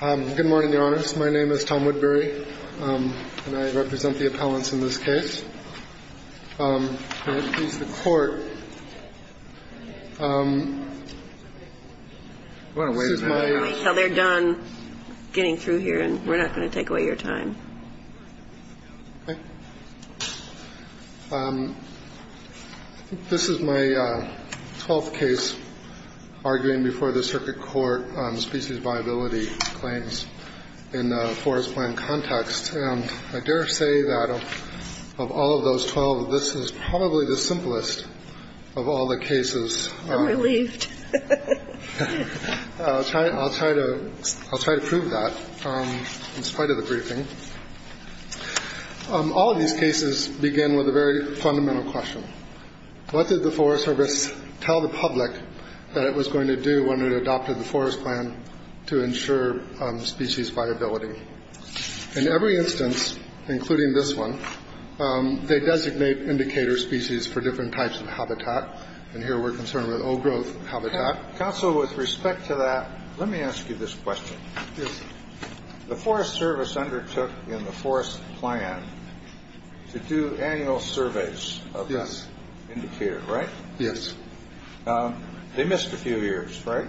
Good morning, Your Honors. My name is Tom Woodbury, and I represent the appellants in this case. I'm going to introduce the court. We're going to wait until they're done getting through here, and we're not going to take away your time. Okay. This is my twelfth case arguing before the circuit court on species viability claims in a forest plan context. And I dare say that of all of those 12, this is probably the simplest of all the cases. I'm relieved. I'll try to prove that in spite of the briefing. All of these cases begin with a very fundamental question. What did the Forest Service tell the public that it was going to do when it adopted the forest plan to ensure species viability? In every instance, including this one, they designate indicator species for different types of habitat. And here we're concerned with old growth habitat. Counsel, with respect to that, let me ask you this question. The Forest Service undertook in the forest plan to do annual surveys of this indicator, right? Yes. They missed a few years, right?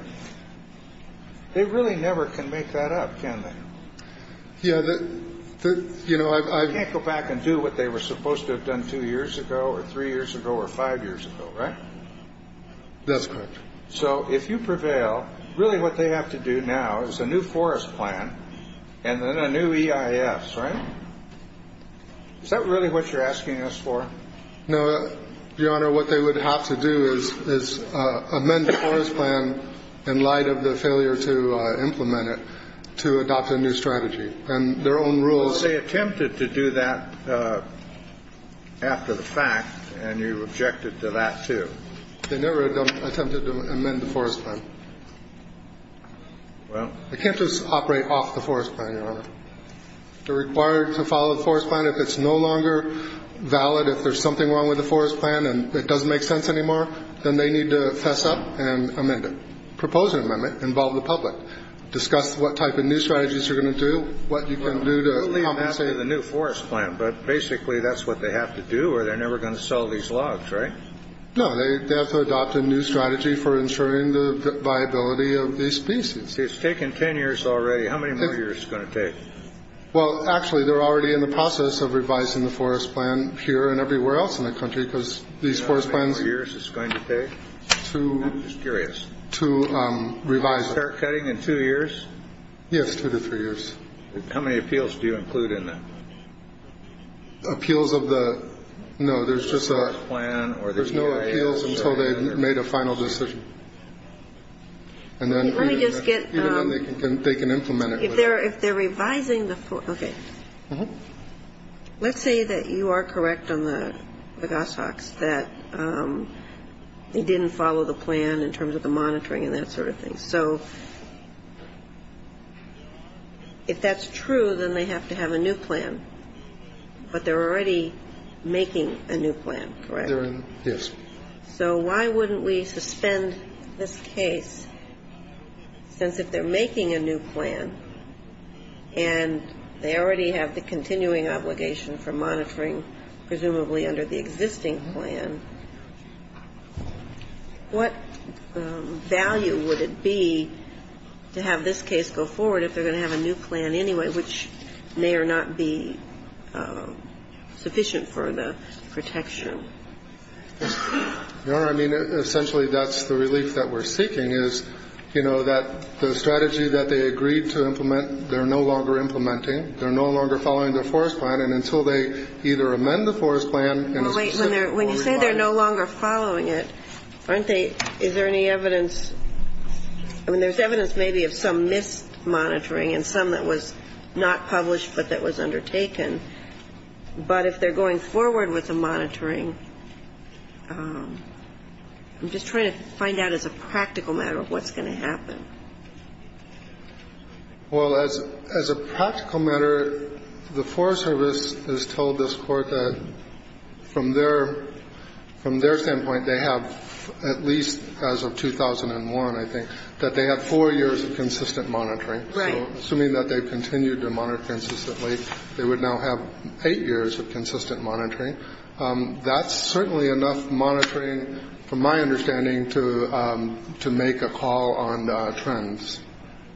They really never can make that up, can they? Yeah. You know, I can't go back and do what they were supposed to have done two years ago or three years ago or five years ago, right? That's correct. So if you prevail, really what they have to do now is a new forest plan and then a new EIS, right? Is that really what you're asking us for? No, Your Honor. What they would have to do is amend the forest plan in light of the failure to implement it to adopt a new strategy and their own rules. They attempted to do that after the fact. And you objected to that, too. They never attempted to amend the forest plan. Well, I can't just operate off the forest plan. They're required to follow the forest plan. If it's no longer valid, if there's something wrong with the forest plan and it doesn't make sense anymore, then they need to fess up and amend it. Propose an amendment, involve the public. Discuss what type of new strategies you're going to do, what you can do to compensate. But basically that's what they have to do or they're never going to sell these logs, right? No, they have to adopt a new strategy for ensuring the viability of these species. It's taken 10 years already. How many more years is it going to take? Well, actually, they're already in the process of revising the forest plan here and everywhere else in the country because these forest plans. How many more years is it going to take? I'm just curious. To revise. To start cutting in two years? Yes, two to three years. How many appeals do you include in that? Appeals of the, no, there's just a, there's no appeals until they've made a final decision. Let me just get. Even then they can implement it. If they're revising the, okay. Let's say that you are correct on the goshawks that they didn't follow the plan in terms of the monitoring and that sort of thing. So if that's true, then they have to have a new plan. But they're already making a new plan, correct? Yes. So why wouldn't we suspend this case since if they're making a new plan and they already have the continuing obligation for monitoring, presumably under the existing plan, what value would it be to have this case go forward if they're going to have a new plan anyway, which may or not be sufficient for the protection? Your Honor, I mean, essentially that's the relief that we're seeking is, you know, that the strategy that they agreed to implement, they're no longer implementing. They're no longer following their forest plan. And until they either amend the forest plan in a specific way. When you say they're no longer following it, aren't they, is there any evidence, I mean, there's evidence maybe of some missed monitoring and some that was not published but that was undertaken. But if they're going forward with the monitoring, I'm just trying to find out as a practical matter what's going to happen. Well, as a practical matter, the Forest Service has told this Court that from their standpoint, they have at least as of 2001, I think, that they have four years of consistent monitoring. Right. So assuming that they continue to monitor consistently, they would now have eight years of consistent monitoring. That's certainly enough monitoring, from my understanding, to make a call on trends.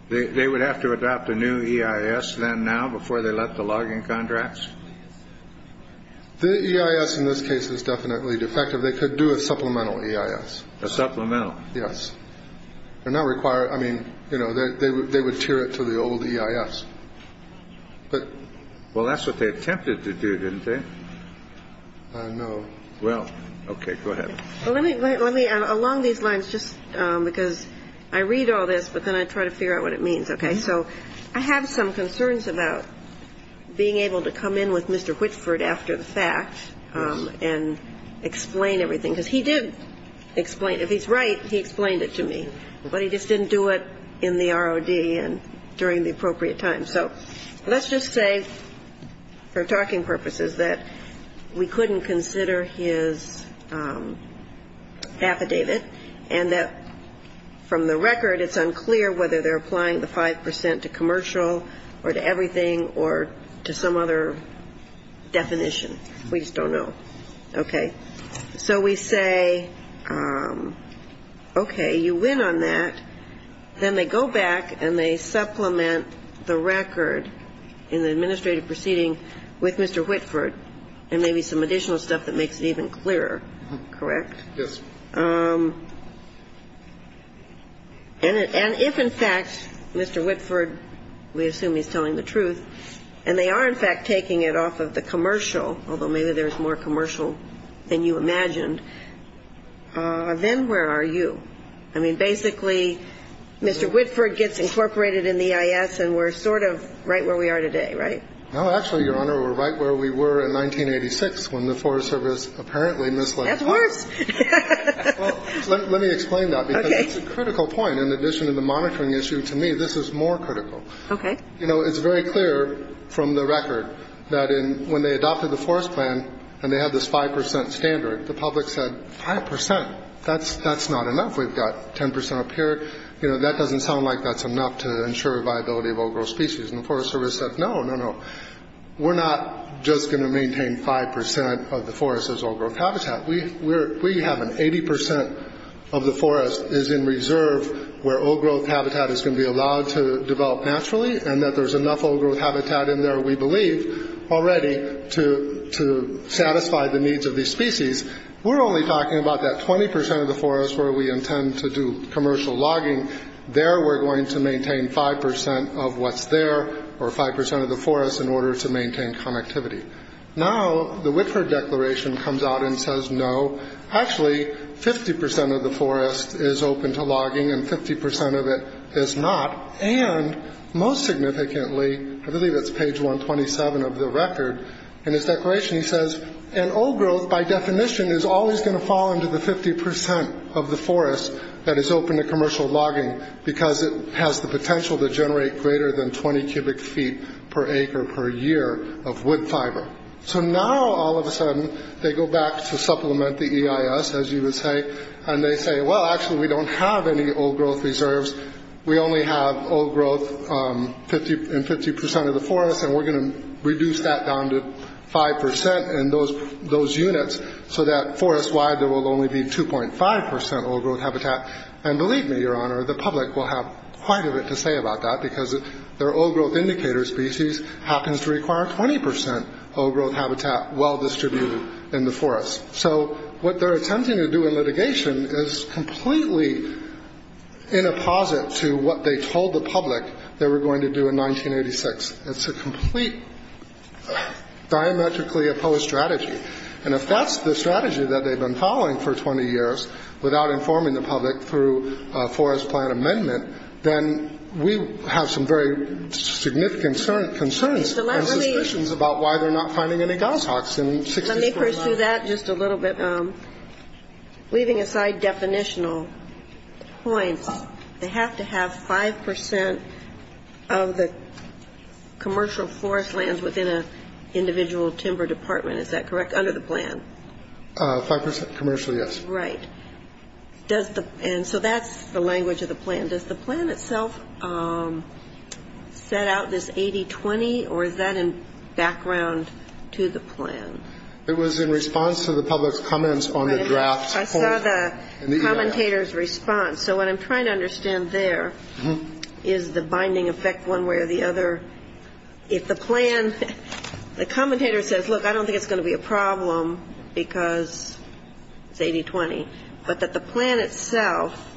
They would have to adopt a new EIS then now before they let the log-in contracts? The EIS in this case is definitely defective. They could do a supplemental EIS. A supplemental? Yes. They're not required. I mean, you know, they would tier it to the old EIS. Well, that's what they attempted to do, didn't they? I know. Well, okay. Go ahead. Well, let me along these lines just because I read all this, but then I try to figure out what it means. Okay. So I have some concerns about being able to come in with Mr. Whitford after the fact and explain everything. Because he did explain. If he's right, he explained it to me. But he just didn't do it in the ROD and during the appropriate time. So let's just say for talking purposes that we couldn't consider his affidavit and that from the record, it's unclear whether they're applying the 5 percent to commercial or to everything or to some other definition. We just don't know. Okay. So we say, okay, you win on that. Then they go back and they supplement the record in the administrative proceeding with Mr. Whitford and maybe some additional stuff that makes it even clearer. Correct? Yes. And if, in fact, Mr. Whitford, we assume he's telling the truth, and they are, in fact, taking it off of the commercial, although maybe there's more commercial than you imagined, then where are you? I mean, basically, Mr. Whitford gets incorporated in the EIS and we're sort of right where we are today, right? No, actually, Your Honor, we're right where we were in 1986 when the Forest Service apparently misled us. That's worse. Well, let me explain that. Okay. Because it's a critical point. In addition to the monitoring issue, to me, this is more critical. Okay. You know, it's very clear from the record that when they adopted the forest plan and they had this 5 percent standard, the public said, 5 percent, that's not enough. We've got 10 percent up here. You know, that doesn't sound like that's enough to ensure viability of old-growth species. And the Forest Service said, no, no, no. We're not just going to maintain 5 percent of the forest as old-growth habitat. We have an 80 percent of the forest is in reserve where old-growth habitat is going to be allowed to develop naturally and that there's enough old-growth habitat in there, we believe, already to satisfy the needs of these species. We're only talking about that 20 percent of the forest where we intend to do commercial logging. There we're going to maintain 5 percent of what's there or 5 percent of the forest in order to maintain connectivity. Now, the Whitford Declaration comes out and says no. Actually, 50 percent of the forest is open to logging and 50 percent of it is not. And most significantly, I believe that's page 127 of the record, in his declaration he says, and old-growth, by definition, is always going to fall into the 50 percent of the forest that is open to commercial logging because it has the potential to generate greater than 20 cubic feet per acre per year of wood fiber. So now, all of a sudden, they go back to supplement the EIS, as you would say, and they say, well, actually, we don't have any old-growth reserves. We only have old-growth in 50 percent of the forest, and we're going to reduce that down to 5 percent in those units so that forest-wide there will only be 2.5 percent old-growth habitat. And believe me, Your Honor, the public will have quite a bit to say about that because their old-growth indicator species happens to require 20 percent old-growth habitat well distributed in the forest. So what they're attempting to do in litigation is completely in apposite to what they told the public they were going to do in 1986. It's a complete diametrically opposed strategy. And if that's the strategy that they've been following for 20 years without informing the public through a forest plan amendment, then we have some very significant concerns and suspicions about why they're not finding any goshawks in 64 miles. Let me pursue that just a little bit. Leaving aside definitional points, they have to have 5 percent of the commercial forest lands within an individual timber department. Is that correct, under the plan? 5 percent commercially, yes. Right. And so that's the language of the plan. Does the plan itself set out this 80-20, or is that in background to the plan? It was in response to the public's comments on the draft. I saw the commentator's response. So what I'm trying to understand there is the binding effect one way or the other. If the plan, the commentator says, look, I don't think it's going to be a problem because it's 80-20, but that the plan itself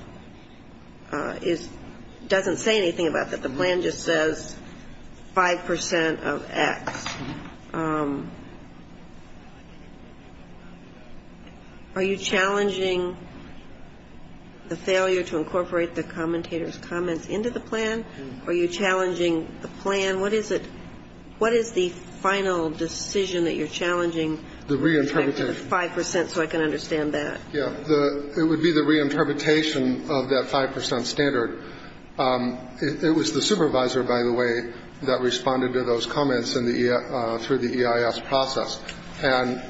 doesn't say anything about that. The plan just says 5 percent of X. Are you challenging the failure to incorporate the commentator's comments into the plan? Are you challenging the plan? What is the final decision that you're challenging? The reinterpretation. 5 percent, so I can understand that. Yeah, it would be the reinterpretation of that 5 percent standard. It was the supervisor, by the way, that responded to those comments through the EIS process. And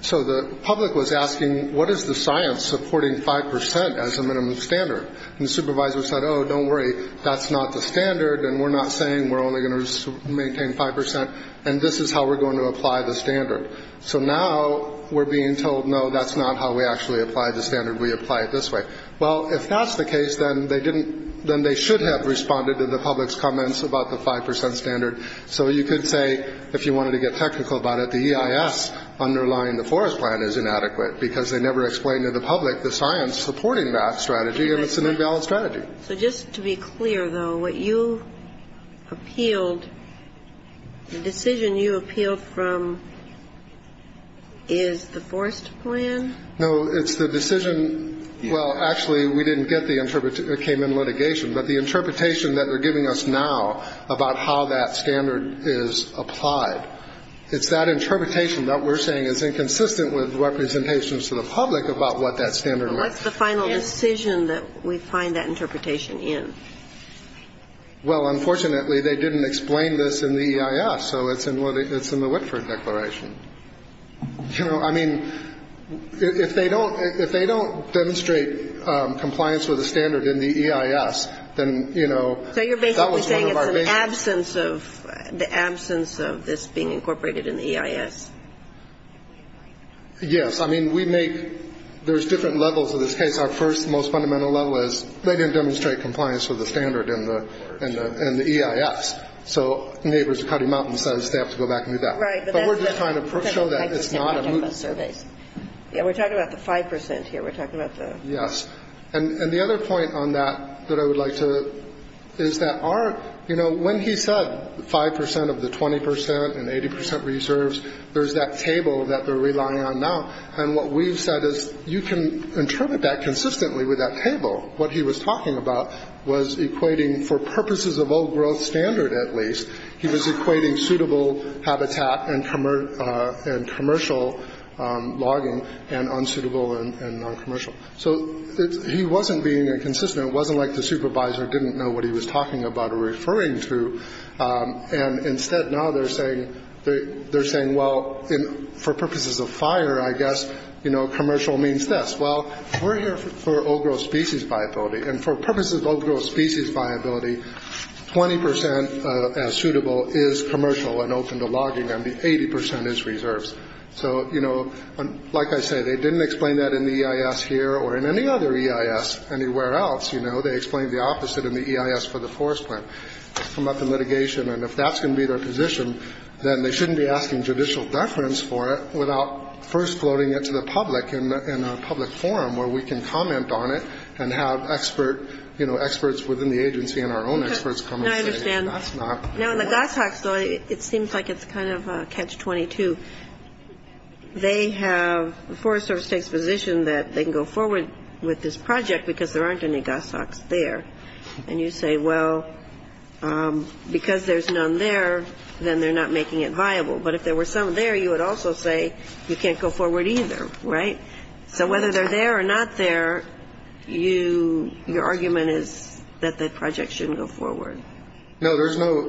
so the public was asking, what is the science supporting 5 percent as a minimum standard? And the supervisor said, oh, don't worry, that's not the standard, and we're not saying we're only going to maintain 5 percent, and this is how we're going to apply the standard. So now we're being told, no, that's not how we actually apply the standard. We apply it this way. Well, if that's the case, then they should have responded to the public's comments about the 5 percent standard. So you could say, if you wanted to get technical about it, the EIS underlying the forest plan is inadequate because they never explained to the public the science supporting that strategy, and it's an imbalanced strategy. So just to be clear, though, what you appealed, the decision you appealed from, is the forest plan? No, it's the decision, well, actually, we didn't get the interpretation. It came in litigation. But the interpretation that they're giving us now about how that standard is applied, it's that interpretation that we're saying is inconsistent with representations to the public about what that standard was. What's the final decision that we find that interpretation in? Well, unfortunately, they didn't explain this in the EIS, so it's in the Whitford Declaration. You know, I mean, if they don't demonstrate compliance with the standard in the EIS, then, you know, that was one of our biggest. So you're basically saying it's the absence of this being incorporated in the EIS? Yes. I mean, we make, there's different levels of this case. Our first, most fundamental level is they didn't demonstrate compliance with the standard in the EIS. So Neighbors of Cuddy Mountain says they have to go back and do that. Right. But we're just trying to show that it's not a movement. Yeah, we're talking about the 5% here. We're talking about the. Yes. And the other point on that that I would like to, is that our, you know, when he said 5% of the 20% and 80% reserves, there's that table that they're relying on now. And what we've said is you can interpret that consistently with that table. What he was talking about was equating, for purposes of old growth standard at least, he was equating suitable habitat and commercial logging and unsuitable and noncommercial. So he wasn't being inconsistent. It wasn't like the supervisor didn't know what he was talking about or referring to. And instead now they're saying, well, for purposes of fire, I guess, you know, commercial means this. Well, we're here for old growth species viability. And for purposes of old growth species viability, 20% as suitable is commercial and open to logging. And the 80% is reserves. So, you know, like I say, they didn't explain that in the EIS here or in any other EIS anywhere else. You know, they explained the opposite in the EIS for the forest plant. It's come up in litigation. And if that's going to be their position, then they shouldn't be asking judicial deference for it without first floating it to the public in a public forum where we can comment on it and have expert, you know, experts within the agency and our own experts come and say that's not. Now, in the goshawks, though, it seems like it's kind of a catch 22. They have the Forest Service takes position that they can go forward with this project because there aren't any goshawks there. And you say, well, because there's none there, then they're not making it viable. But if there were some there, you would also say you can't go forward either. Right. So whether they're there or not there, you your argument is that the project shouldn't go forward. Right. No, there's no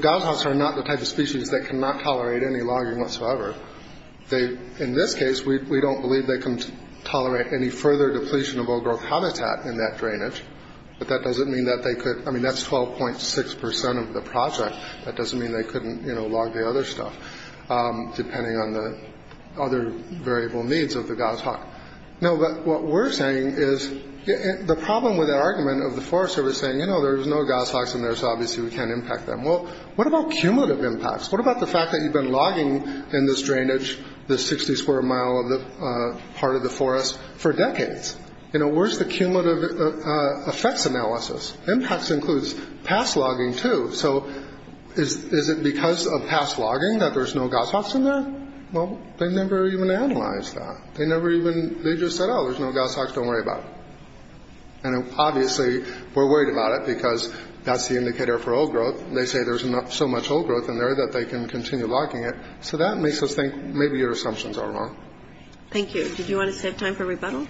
goshawks are not the type of species that cannot tolerate any logging whatsoever. They in this case, we don't believe they can tolerate any further depletion of all growth habitat in that drainage. But that doesn't mean that they could. I mean, that's 12.6 percent of the project. That doesn't mean they couldn't log the other stuff depending on the other variable needs of the goshawk. No. But what we're saying is the problem with the argument of the Forest Service saying, you know, there's no goshawks in there. So obviously we can't impact them. Well, what about cumulative impacts? What about the fact that you've been logging in this drainage, the 60 square mile of the part of the forest for decades? You know, where's the cumulative effects analysis? Impacts includes past logging, too. So is it because of past logging that there's no goshawks in there? Well, they never even analyzed that. They never even – they just said, oh, there's no goshawks, don't worry about it. And obviously we're worried about it because that's the indicator for old growth. They say there's so much old growth in there that they can continue logging it. So that makes us think maybe your assumptions are wrong. Thank you. Did you want to save time for rebuttal?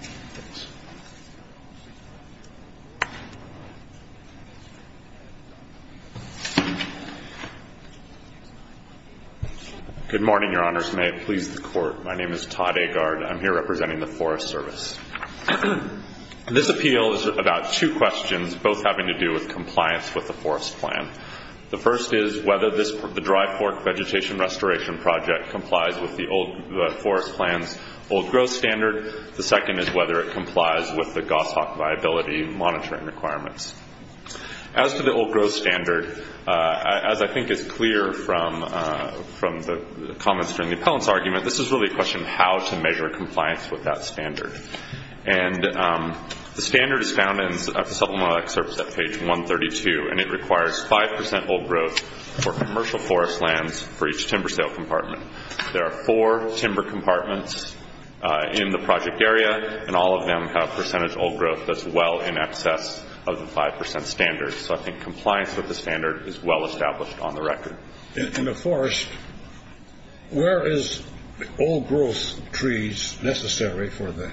Good morning, Your Honors. May it please the Court. My name is Todd Agard. I'm here representing the Forest Service. This appeal is about two questions, both having to do with compliance with the forest plan. The first is whether the Dry Fork Vegetation Restoration Project complies with the forest plan's old growth standard. The second is whether it complies with the goshawk viability monitoring requirements. As to the old growth standard, as I think is clear from the comments from the appellant's argument, this is really a question of how to measure compliance with that standard. And the standard is found in the supplemental excerpts at page 132, and it requires 5% old growth for commercial forest lands for each timber sale compartment. There are four timber compartments in the project area, and all of them have percentage old growth that's well in excess of the 5% standard. So I think compliance with the standard is well established on the record. In the forest, where is old growth trees necessary for the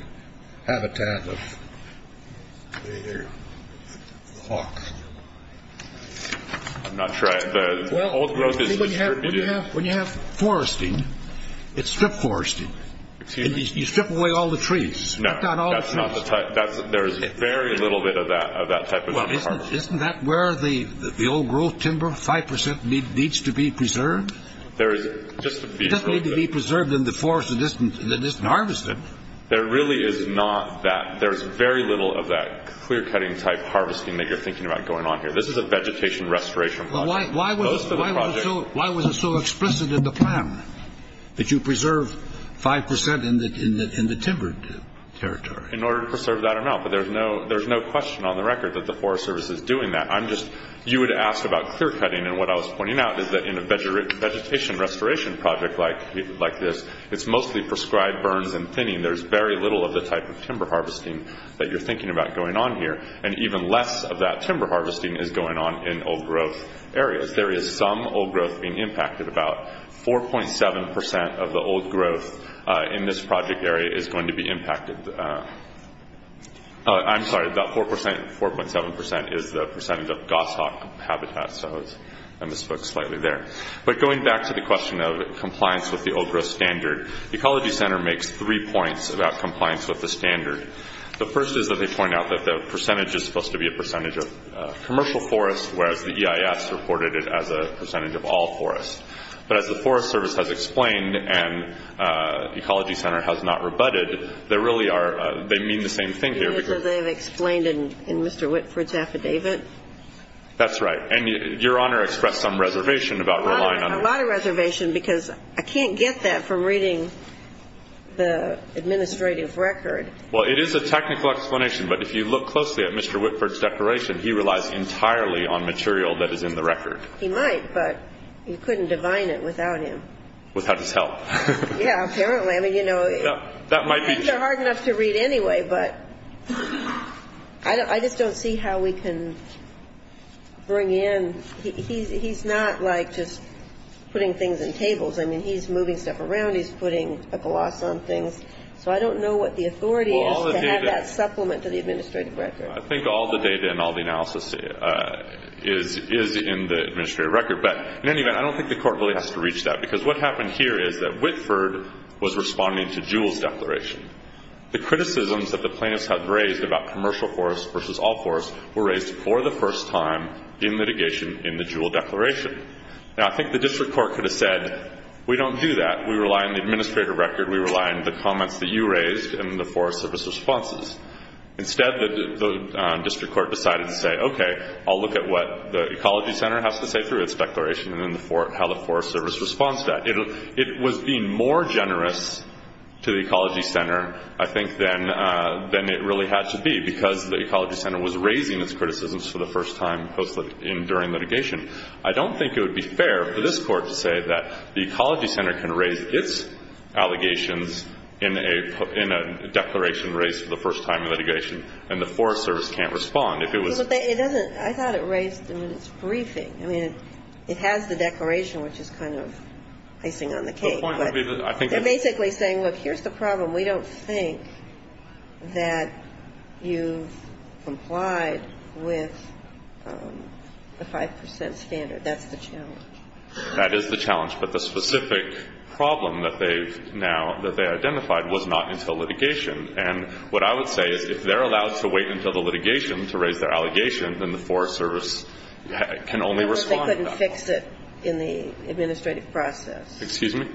habitat of the hawk? I'm not sure. The old growth is distributed. When you have foresting, it's strip foresting. You strip away all the trees. No, that's not the type. There is very little bit of that type of timber. Isn't that where the old growth timber, 5%, needs to be preserved? It doesn't need to be preserved in the forest that isn't harvested. There really is not that. There is very little of that clear-cutting type harvesting that you're thinking about going on here. This is a vegetation restoration project. Why was it so explicit in the plan that you preserve 5% in the timbered territory? But there's no question on the record that the Forest Service is doing that. You would ask about clear-cutting, and what I was pointing out is that in a vegetation restoration project like this, it's mostly prescribed burns and thinning. There's very little of the type of timber harvesting that you're thinking about going on here, and even less of that timber harvesting is going on in old growth areas. There is some old growth being impacted. About 4.7% of the old growth in this project area is going to be impacted. I'm sorry, about 4.7% is the percentage of goshawk habitat, so I misspoke slightly there. But going back to the question of compliance with the old growth standard, the Ecology Center makes three points about compliance with the standard. The first is that they point out that the percentage is supposed to be a percentage of commercial forest, whereas the EIS reported it as a percentage of all forest. But as the Forest Service has explained and the Ecology Center has not rebutted, they really are ñ they mean the same thing here. So they've explained it in Mr. Whitford's affidavit? That's right. And Your Honor expressed some reservation about relying on it. A lot of reservation because I can't get that from reading the administrative record. Well, it is a technical explanation, but if you look closely at Mr. Whitford's declaration, he relies entirely on material that is in the record. He might, but you couldn't divine it without him. Without his help. Yeah, apparently. I mean, you know. That might be true. The things are hard enough to read anyway, but I just don't see how we can bring in ñ he's not like just putting things in tables. I mean, he's moving stuff around, he's putting a gloss on things. So I don't know what the authority is to have that supplement to the administrative record. I think all the data and all the analysis is in the administrative record. But in any event, I don't think the court really has to reach that because what happened here is that Whitford was responding to Jewell's declaration. The criticisms that the plaintiffs had raised about commercial force versus all force were raised for the first time in litigation in the Jewell declaration. Now, I think the district court could have said, we don't do that. We rely on the administrative record. We rely on the comments that you raised and the Forest Service responses. Instead, the district court decided to say, okay, I'll look at what the Ecology Center has to say through its declaration and how the Forest Service responds to that. It was being more generous to the Ecology Center, I think, than it really had to be because the Ecology Center was raising its criticisms for the first time during litigation. I don't think it would be fair for this court to say that the Ecology Center can raise its allegations in a declaration raised for the first time in litigation and the Forest Service can't respond if it was. But it doesn't. I thought it raised in its briefing. I mean, it has the declaration, which is kind of icing on the cake. The point would be that I think. They're basically saying, look, here's the problem. We don't think that you've complied with the 5 percent standard. That's the challenge. That is the challenge. But the specific problem that they've now identified was not until litigation. And what I would say is if they're allowed to wait until the litigation to raise their allegation, then the Forest Service can only respond. Unless they couldn't fix it in the administrative process. Excuse me?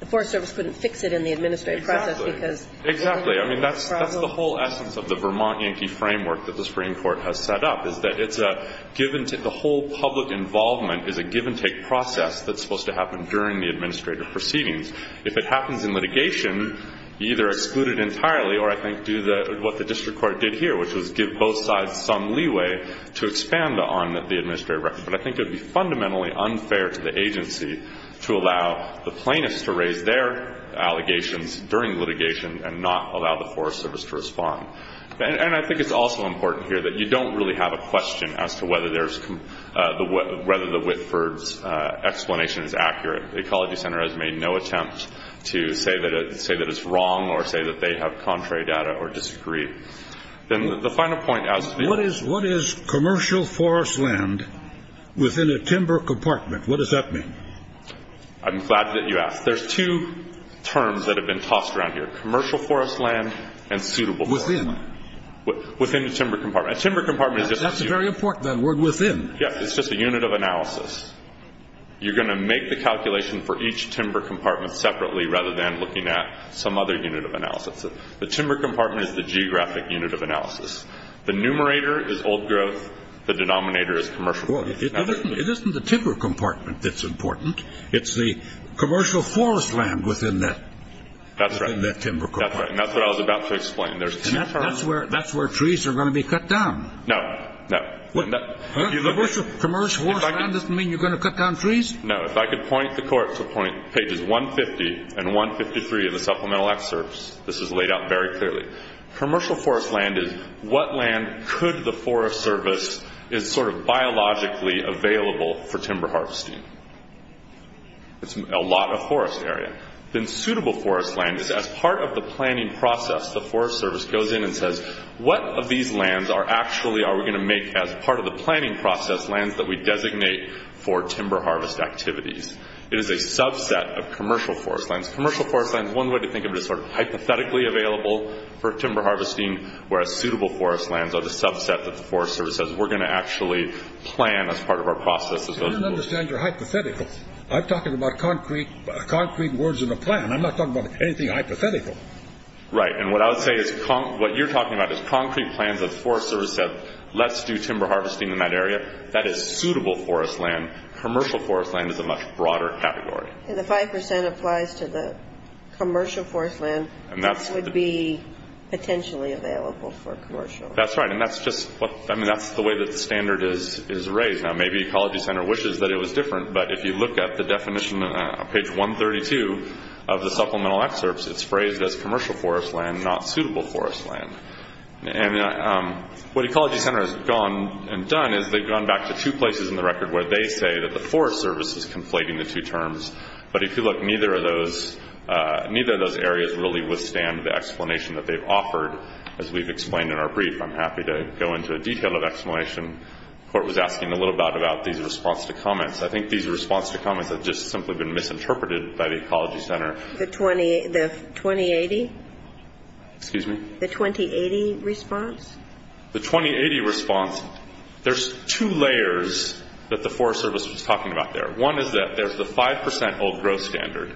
The Forest Service couldn't fix it in the administrative process because it was a legal problem. Exactly. I mean, that's the whole essence of the Vermont Yankee framework that the Supreme Court has set up, is that the whole public involvement is a give-and-take process that's supposed to happen during the administrative proceedings. If it happens in litigation, either exclude it entirely or, I think, do what the district court did here, which was give both sides some leeway to expand on the administrative record. But I think it would be fundamentally unfair to the agency to allow the plaintiffs to raise their allegations during litigation and not allow the Forest Service to respond. And I think it's also important here that you don't really have a question as to whether the Whitford's explanation is accurate. The Ecology Center has made no attempt to say that it's wrong or say that they have contrary data or disagree. Then the final point as to the- What is commercial forest land within a timber compartment? What does that mean? I'm glad that you asked. There's two terms that have been tossed around here, commercial forest land and suitable forest land. Within? Within the timber compartment. A timber compartment is just- That's very important, that word within. Yes, it's just a unit of analysis. You're going to make the calculation for each timber compartment separately rather than looking at some other unit of analysis. The timber compartment is the geographic unit of analysis. The numerator is old growth. The denominator is commercial growth. It isn't the timber compartment that's important. It's the commercial forest land within that timber compartment. That's right, and that's what I was about to explain. That's where trees are going to be cut down. No, no. Commercial forest land doesn't mean you're going to cut down trees? No. If I could point the Court to pages 150 and 153 of the supplemental excerpts, this is laid out very clearly. Commercial forest land is what land could the Forest Service is sort of biologically available for timber harvesting. It's a lot of forest area. Then suitable forest land is as part of the planning process, the Forest Service goes in and says, what of these lands are actually are we going to make as part of the planning process lands that we designate for timber harvest activities? It is a subset of commercial forest lands. Commercial forest lands, one way to think of it is sort of hypothetically available for timber harvesting, whereas suitable forest lands are the subset that the Forest Service says we're going to actually plan as part of our process. I don't understand your hypotheticals. I'm talking about concrete words in a plan. I'm not talking about anything hypothetical. Right. And what I would say is what you're talking about is concrete plans that the Forest Service said, let's do timber harvesting in that area. That is suitable forest land. Commercial forest land is a much broader category. And the 5% applies to the commercial forest land that would be potentially available for commercial. That's right. And that's just the way the standard is raised. Now, maybe Ecology Center wishes that it was different. But if you look at the definition on page 132 of the supplemental excerpts, it's phrased as commercial forest land, not suitable forest land. And what Ecology Center has gone and done is they've gone back to two places in the record where they say that the Forest Service is conflating the two terms. But if you look, neither of those areas really withstand the explanation that they've offered. As we've explained in our brief, I'm happy to go into a detail of explanation. The Court was asking a little bit about these response to comments. I think these response to comments have just simply been misinterpreted by the Ecology Center. The 2080? Excuse me? The 2080 response? The 2080 response, there's two layers that the Forest Service was talking about there. One is that there's the 5% old growth standard.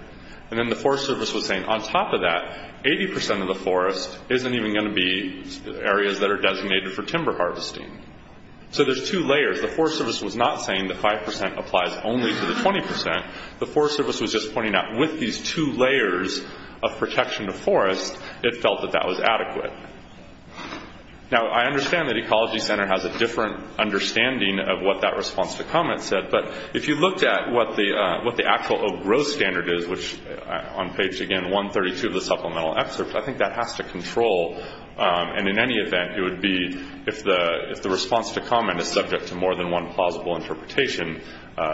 And then the Forest Service was saying on top of that, 80% of the forest isn't even going to be areas that are designated for timber harvesting. So there's two layers. The Forest Service was not saying the 5% applies only to the 20%. The Forest Service was just pointing out with these two layers of protection to forest, it felt that that was adequate. Now, I understand that Ecology Center has a different understanding of what that response to comments said. But if you looked at what the actual old growth standard is, which on page, again, 132 of the supplemental excerpt, I think that has to control. And in any event, it would be if the response to comment is subject to more than one plausible interpretation,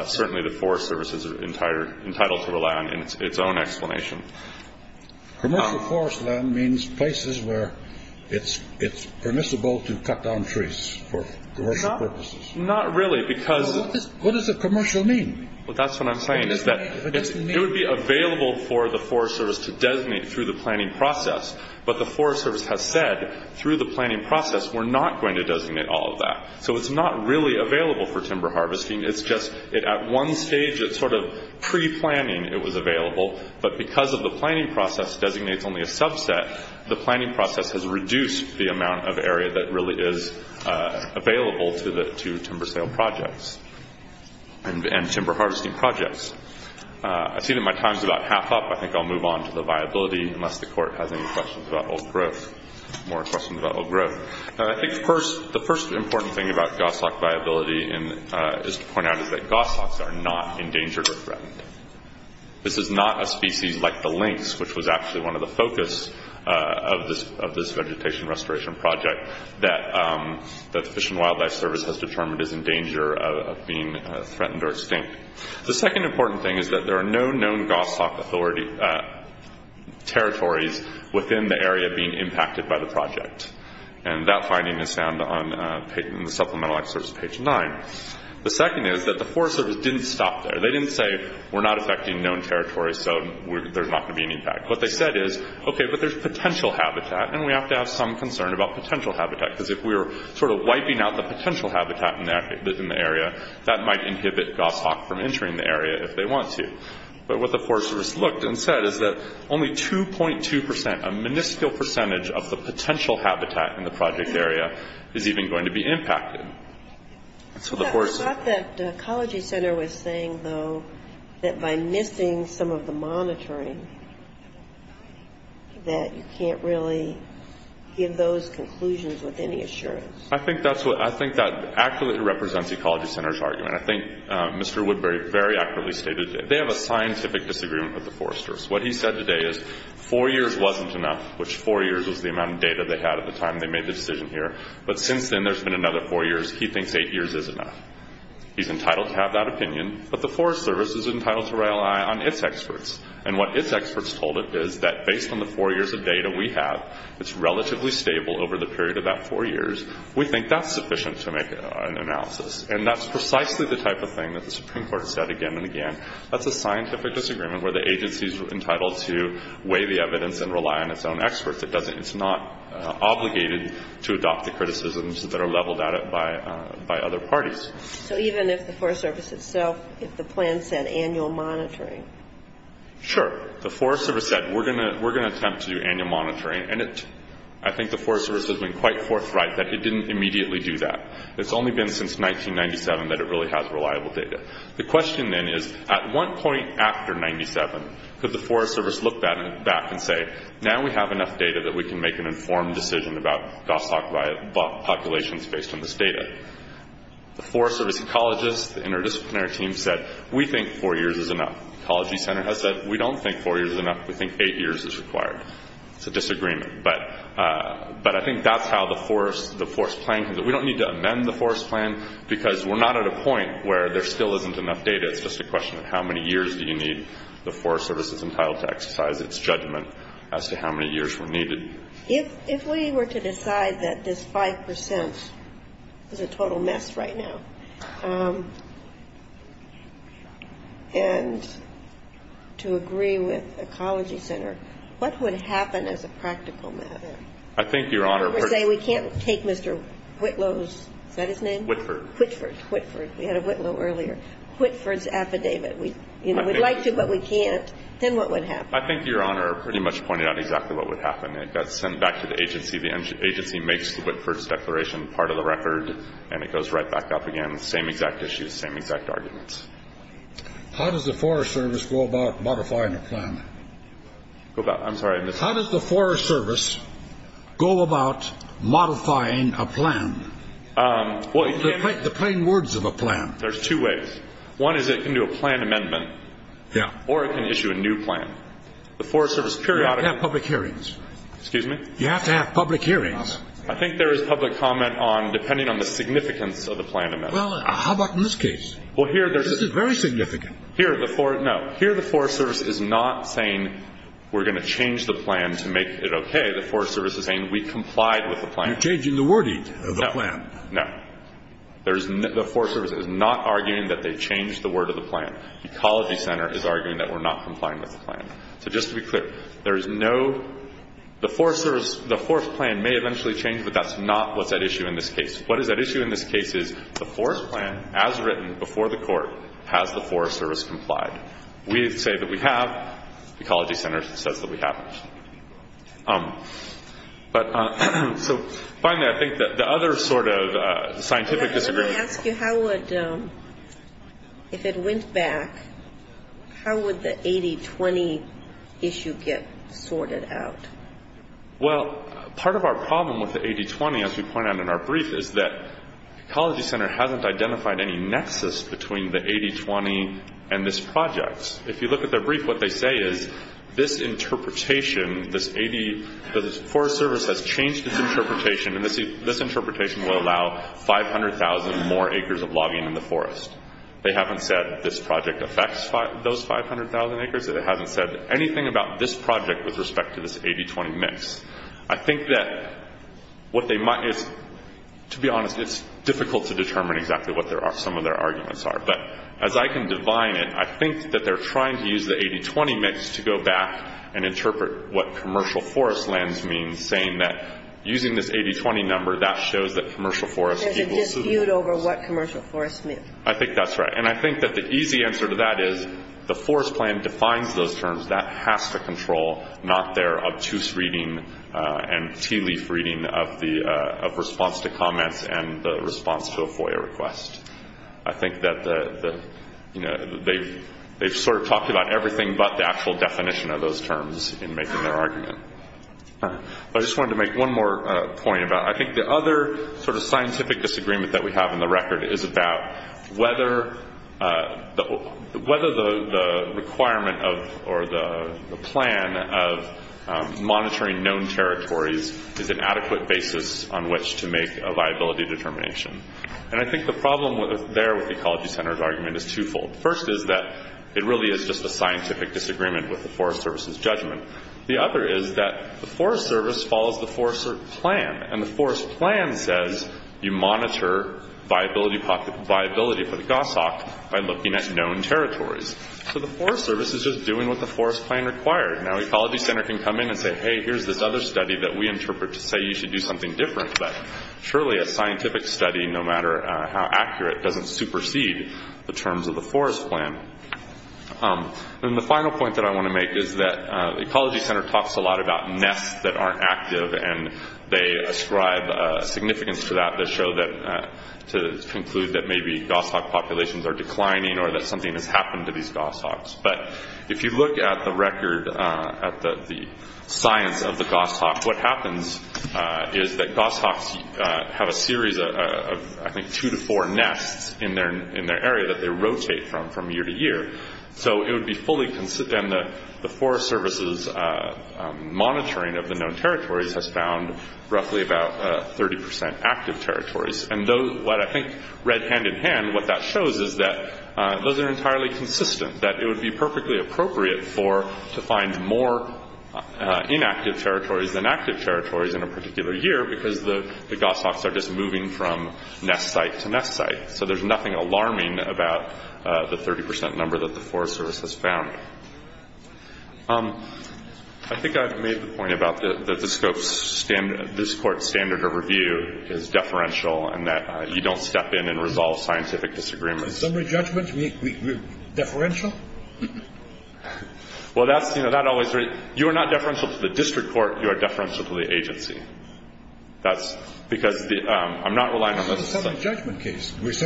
certainly the Forest Service is entitled to rely on its own explanation. Commercial forest land means places where it's permissible to cut down trees for commercial purposes. Not really because What does a commercial mean? That's what I'm saying. It would be available for the Forest Service to designate through the planning process. But the Forest Service has said through the planning process, we're not going to designate all of that. So it's not really available for timber harvesting. It's just at one stage, it's sort of pre-planning it was available. But because of the planning process designates only a subset, the planning process has reduced the amount of area that really is available to timber sale projects and timber harvesting projects. I see that my time is about half up. I think I'll move on to the viability unless the Court has any questions about old growth, more questions about old growth. I think the first important thing about goshawk viability is to point out is that goshawks are not endangered or threatened. This is not a species like the lynx, which was actually one of the focus of this vegetation restoration project that the Fish and Wildlife Service has determined is in danger of being threatened or extinct. The second important thing is that there are no known goshawk territories within the area being impacted by the project. And that finding is found in the Supplemental Act Service, page 9. The second is that the Forest Service didn't stop there. They didn't say, we're not affecting known territories, so there's not going to be any impact. What they said is, okay, but there's potential habitat, and we have to have some concern about potential habitat, because if we're sort of wiping out the potential habitat in the area, that might inhibit goshawk from entering the area if they want to. But what the Forest Service looked and said is that only 2.2 percent, a minuscule percentage of the potential habitat in the project area is even going to be impacted. I thought that the Ecology Center was saying, though, that by missing some of the monitoring, that you can't really give those conclusions with any assurance. I think that accurately represents the Ecology Center's argument. I think Mr. Woodbury very accurately stated it. They have a scientific disagreement with the Forest Service. What he said today is four years wasn't enough, which four years was the amount of data they had at the time they made the decision here. But since then, there's been another four years. He thinks eight years is enough. He's entitled to have that opinion, but the Forest Service is entitled to rely on its experts. And what its experts told it is that based on the four years of data we have, it's relatively stable over the period of that four years. We think that's sufficient to make an analysis. And that's precisely the type of thing that the Supreme Court has said again and again. That's a scientific disagreement where the agency is entitled to weigh the evidence and rely on its own experts. It's not obligated to adopt the criticisms that are leveled at it by other parties. So even if the Forest Service itself, if the plan said annual monitoring? Sure. The Forest Service said we're going to attempt to do annual monitoring. And I think the Forest Service has been quite forthright that it didn't immediately do that. It's only been since 1997 that it really has reliable data. The question then is, at one point after 1997, could the Forest Service look back and say, now we have enough data that we can make an informed decision about DOSOC populations based on this data? The Forest Service ecologists, the interdisciplinary team said, we think four years is enough. The Ecology Center has said, we don't think four years is enough. We think eight years is required. It's a disagreement. But I think that's how the Forest Plan, that we don't need to amend the Forest Plan because we're not at a point where there still isn't enough data. It's just a question of how many years do you need the Forest Service is entitled to exercise its judgment as to how many years were needed. If we were to decide that this 5 percent is a total mess right now, and to agree with Ecology Center, what would happen as a practical matter? I think, Your Honor, If we were to say we can't take Mr. Whitlow's, is that his name? Whitford. Whitford, Whitford. We had a Whitlow earlier. Whitford's affidavit. We'd like to, but we can't. Then what would happen? I think, Your Honor, pretty much pointed out exactly what would happen. It gets sent back to the agency. The agency makes the Whitford's declaration part of the record, and it goes right back up again. Same exact issues, same exact arguments. How does the Forest Service go about modifying the plan? I'm sorry. How does the Forest Service go about modifying a plan? The plain words of a plan. There's two ways. One is it can do a plan amendment. Yeah. Or it can issue a new plan. You have to have public hearings. Excuse me? You have to have public hearings. I think there is public comment depending on the significance of the plan amendment. Well, how about in this case? This is very significant. No. Here the Forest Service is not saying we're going to change the plan to make it okay. The Forest Service is saying we complied with the plan. You're changing the wording of the plan. No. The Forest Service is not arguing that they changed the word of the plan. Ecology Center is arguing that we're not complying with the plan. So just to be clear, there is no the Forest Service, the Forest plan may eventually change, but that's not what's at issue in this case. What is at issue in this case is the Forest plan, as written before the court, has the Forest Service complied. We say that we have. Ecology Center says that we haven't. So finally, I think the other sort of scientific disagreement. Let me ask you, if it went back, how would the 80-20 issue get sorted out? Well, part of our problem with the 80-20, as we point out in our brief, is that Ecology Center hasn't identified any nexus between the 80-20 and this project. If you look at their brief, what they say is this interpretation, this Forest Service has changed its interpretation, and this interpretation will allow 500,000 more acres of logging in the forest. They haven't said this project affects those 500,000 acres. They haven't said anything about this project with respect to this 80-20 mix. I think that what they might – to be honest, it's difficult to determine exactly what some of their arguments are. But as I can divine it, I think that they're trying to use the 80-20 mix to go back and interpret what commercial forest lands mean, saying that using this 80-20 number, that shows that commercial forest equals – There's a dispute over what commercial forest means. I think that's right. And I think that the easy answer to that is the forest plan defines those terms. That has to control, not their obtuse reading and tea-leaf reading of response to comments and the response to a FOIA request. I think that they've sort of talked about everything but the actual definition of those terms in making their argument. I just wanted to make one more point about – I think the other sort of scientific disagreement that we have in the record is about whether the requirement or the plan of monitoring known territories is an adequate basis on which to make a viability determination. And I think the problem there with the Ecology Center's argument is twofold. First is that it really is just a scientific disagreement with the Forest Service's judgment. The other is that the Forest Service follows the Forest Plan, and the Forest Plan says you monitor viability for the GOSOC by looking at known territories. So the Forest Service is just doing what the Forest Plan required. Now the Ecology Center can come in and say, hey, here's this other study that we interpret to say you should do something different, but surely a scientific study, no matter how accurate, doesn't supersede the terms of the Forest Plan. And the final point that I want to make is that the Ecology Center talks a lot about nests that aren't active and they ascribe significance to that to show that – to conclude that maybe GOSOC populations are declining or that something has happened to these GOSOCs. But if you look at the record, at the science of the GOSOC, what happens is that GOSOCs have a series of, I think, two to four nests in their area that they rotate from, from year to year. So it would be fully – and the Forest Service's monitoring of the known territories has found roughly about 30% active territories. And what I think read hand-in-hand, what that shows is that those are entirely consistent, that it would be perfectly appropriate to find more inactive territories than active territories in a particular year because the GOSOCs are just moving from nest site to nest site. So there's nothing alarming about the 30% number that the Forest Service has found. I think I've made the point about that the scope – this Court's standard of review is deferential and that you don't step in and resolve scientific disagreements. In summary judgment, we're deferential? Well, that's – you know, that always – you are not deferential to the district court. You are deferential to the agency. That's because the – I'm not relying on the – It's an APA case. It's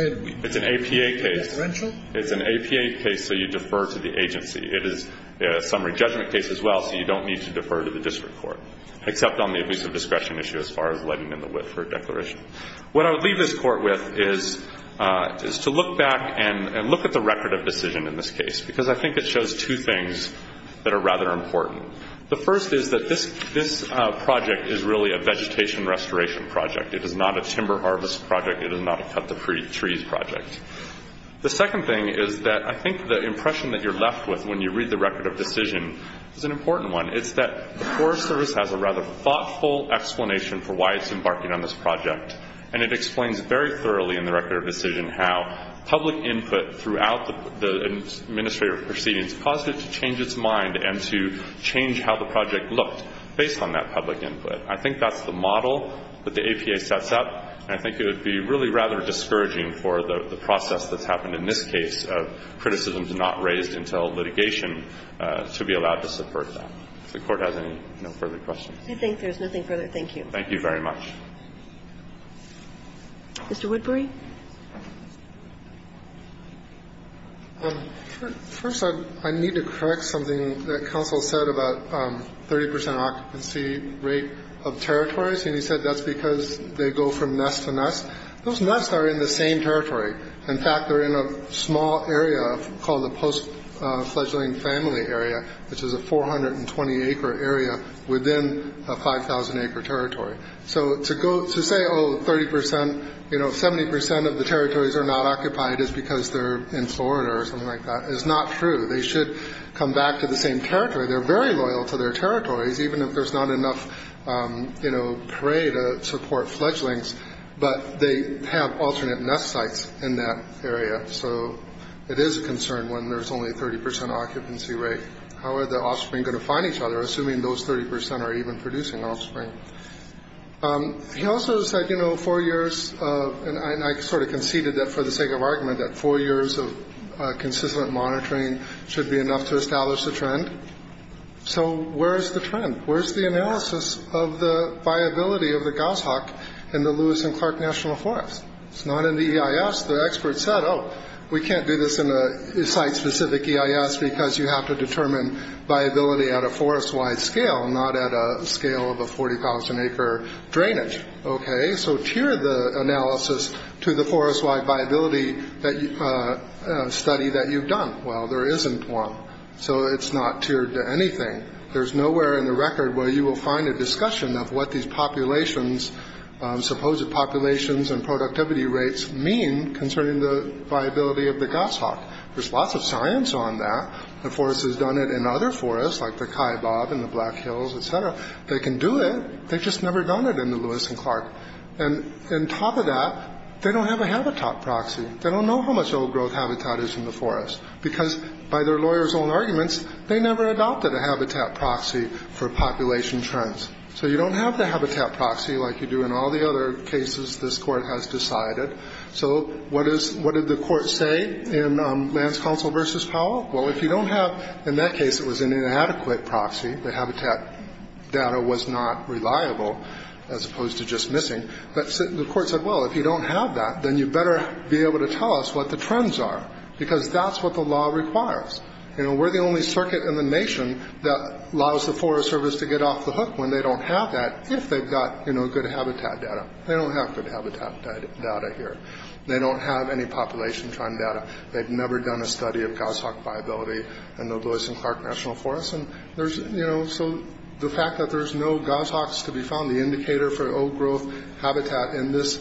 an APA case, so you defer to the agency. It is a summary judgment case as well, so you don't need to defer to the district court, except on the abuse of discretion issue as far as letting in the wit for a declaration. What I would leave this Court with is to look back and look at the record of decision in this case because I think it shows two things that are rather important. The first is that this project is really a vegetation restoration project. It is not a timber harvest project. It is not a cut-to-trees project. The second thing is that I think the impression that you're left with when you read the record of decision is an important one. It's that the Forest Service has a rather thoughtful explanation for why it's embarking on this project, and it explains very thoroughly in the record of decision how public input throughout the administrative proceedings caused it to change its mind and to change how the project looked based on that public input. I think that's the model that the APA sets up, and I think it would be really rather discouraging for the process that's happened in this case of criticisms not raised until litigation to be allowed to subvert that. If the Court has any further questions. I think there's nothing further. Thank you. Thank you very much. Mr. Woodbury. First, I need to correct something that counsel said about 30 percent occupancy rate of territories, and he said that's because they go from nest to nest. Those nests are in the same territory. In fact, they're in a small area called the post-fledgling family area, which is a 420-acre area within a 5,000-acre territory. So to say, oh, 30 percent, you know, 70 percent of the territories are not occupied is because they're in Florida or something like that is not true. They should come back to the same territory. They're very loyal to their territories, even if there's not enough, you know, prey to support fledglings, but they have alternate nest sites in that area. So it is a concern when there's only a 30 percent occupancy rate. How are the offspring going to find each other, assuming those 30 percent are even producing offspring? He also said, you know, four years of, and I sort of conceded that for the sake of argument, that four years of consistent monitoring should be enough to establish a trend. So where is the trend? Where is the analysis of the viability of the goshawk in the Lewis and Clark National Forests? It's not in the EIS. The experts said, oh, we can't do this in a site-specific EIS because you have to determine viability at a forest-wide scale, not at a scale of a 40,000-acre drainage. Okay, so tier the analysis to the forest-wide viability study that you've done. Well, there isn't one, so it's not tiered to anything. There's nowhere in the record where you will find a discussion of what these populations, supposed populations and productivity rates mean concerning the viability of the goshawk. There's lots of science on that. The forest has done it in other forests, like the Kaibab and the Black Hills, et cetera. They can do it. They've just never done it in the Lewis and Clark. And on top of that, they don't have a habitat proxy. They don't know how much old-growth habitat is in the forest because by their lawyers' own arguments, they never adopted a habitat proxy for population trends. So you don't have the habitat proxy like you do in all the other cases this court has decided. So what did the court say in Lance Counsel v. Powell? Well, if you don't have ñ in that case, it was an inadequate proxy. The habitat data was not reliable as opposed to just missing. But the court said, well, if you don't have that, then you better be able to tell us what the trends are because that's what the law requires. We're the only circuit in the nation that allows the Forest Service to get off the hook when they don't have that if they've got good habitat data. They don't have good habitat data here. They don't have any population trend data. They've never done a study of goshawk viability in the Lewis and Clark National Forest. So the fact that there's no goshawks to be found, the indicator for old-growth habitat, and this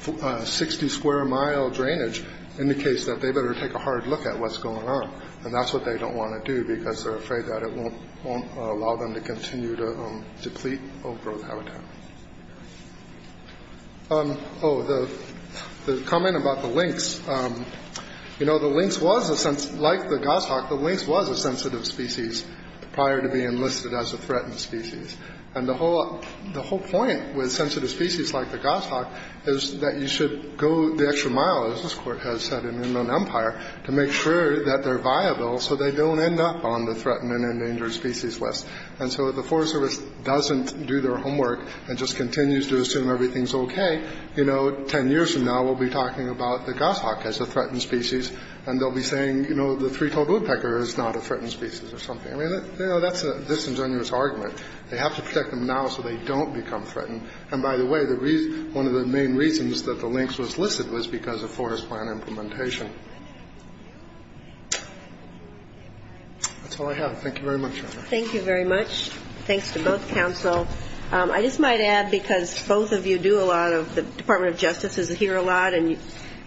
60-square-mile drainage indicates that they better take a hard look at what's going on. And that's what they don't want to do because they're afraid that it won't allow them to continue to deplete old-growth habitat. Oh, the comment about the lynx. You know, the lynx was a ñ like the goshawk, the lynx was a sensitive species prior to being listed as a threatened species. And the whole point with sensitive species like the goshawk is that you should go the extra mile, as this court has said in Inland Empire, to make sure that they're viable so they don't end up on the threatened and endangered species list. And so if the Forest Service doesn't do their homework and just continues to assume everything's okay, you know, 10 years from now we'll be talking about the goshawk as a threatened species, and they'll be saying, you know, the three-toed woodpecker is not a threatened species or something. I mean, you know, that's a disingenuous argument. They have to protect them now so they don't become threatened. And by the way, one of the main reasons that the lynx was listed was because of Forest Plan implementation. That's all I have. Thank you very much. Thank you very much. Thanks to both counsel. I just might add, because both of you do a lot of ñ the Department of Justice is here a lot, and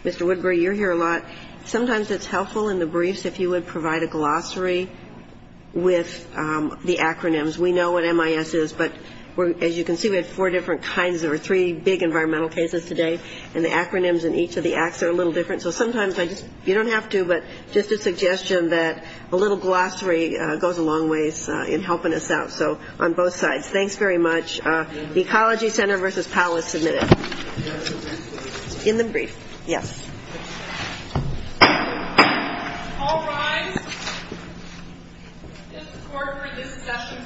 Mr. Woodbury, you're here a lot. Sometimes it's helpful in the briefs if you would provide a glossary with the acronyms. We know what MIS is, but as you can see, we have four different kinds, or three big environmental cases today, and the acronyms in each of the acts are a little different. So sometimes I just ñ you don't have to, but just a suggestion that a little glossary goes a long ways in helping us out. So on both sides, thanks very much. The Ecology Center v. Powell is submitted. In the brief. Yes. All rise. This court for this session stands adjourned.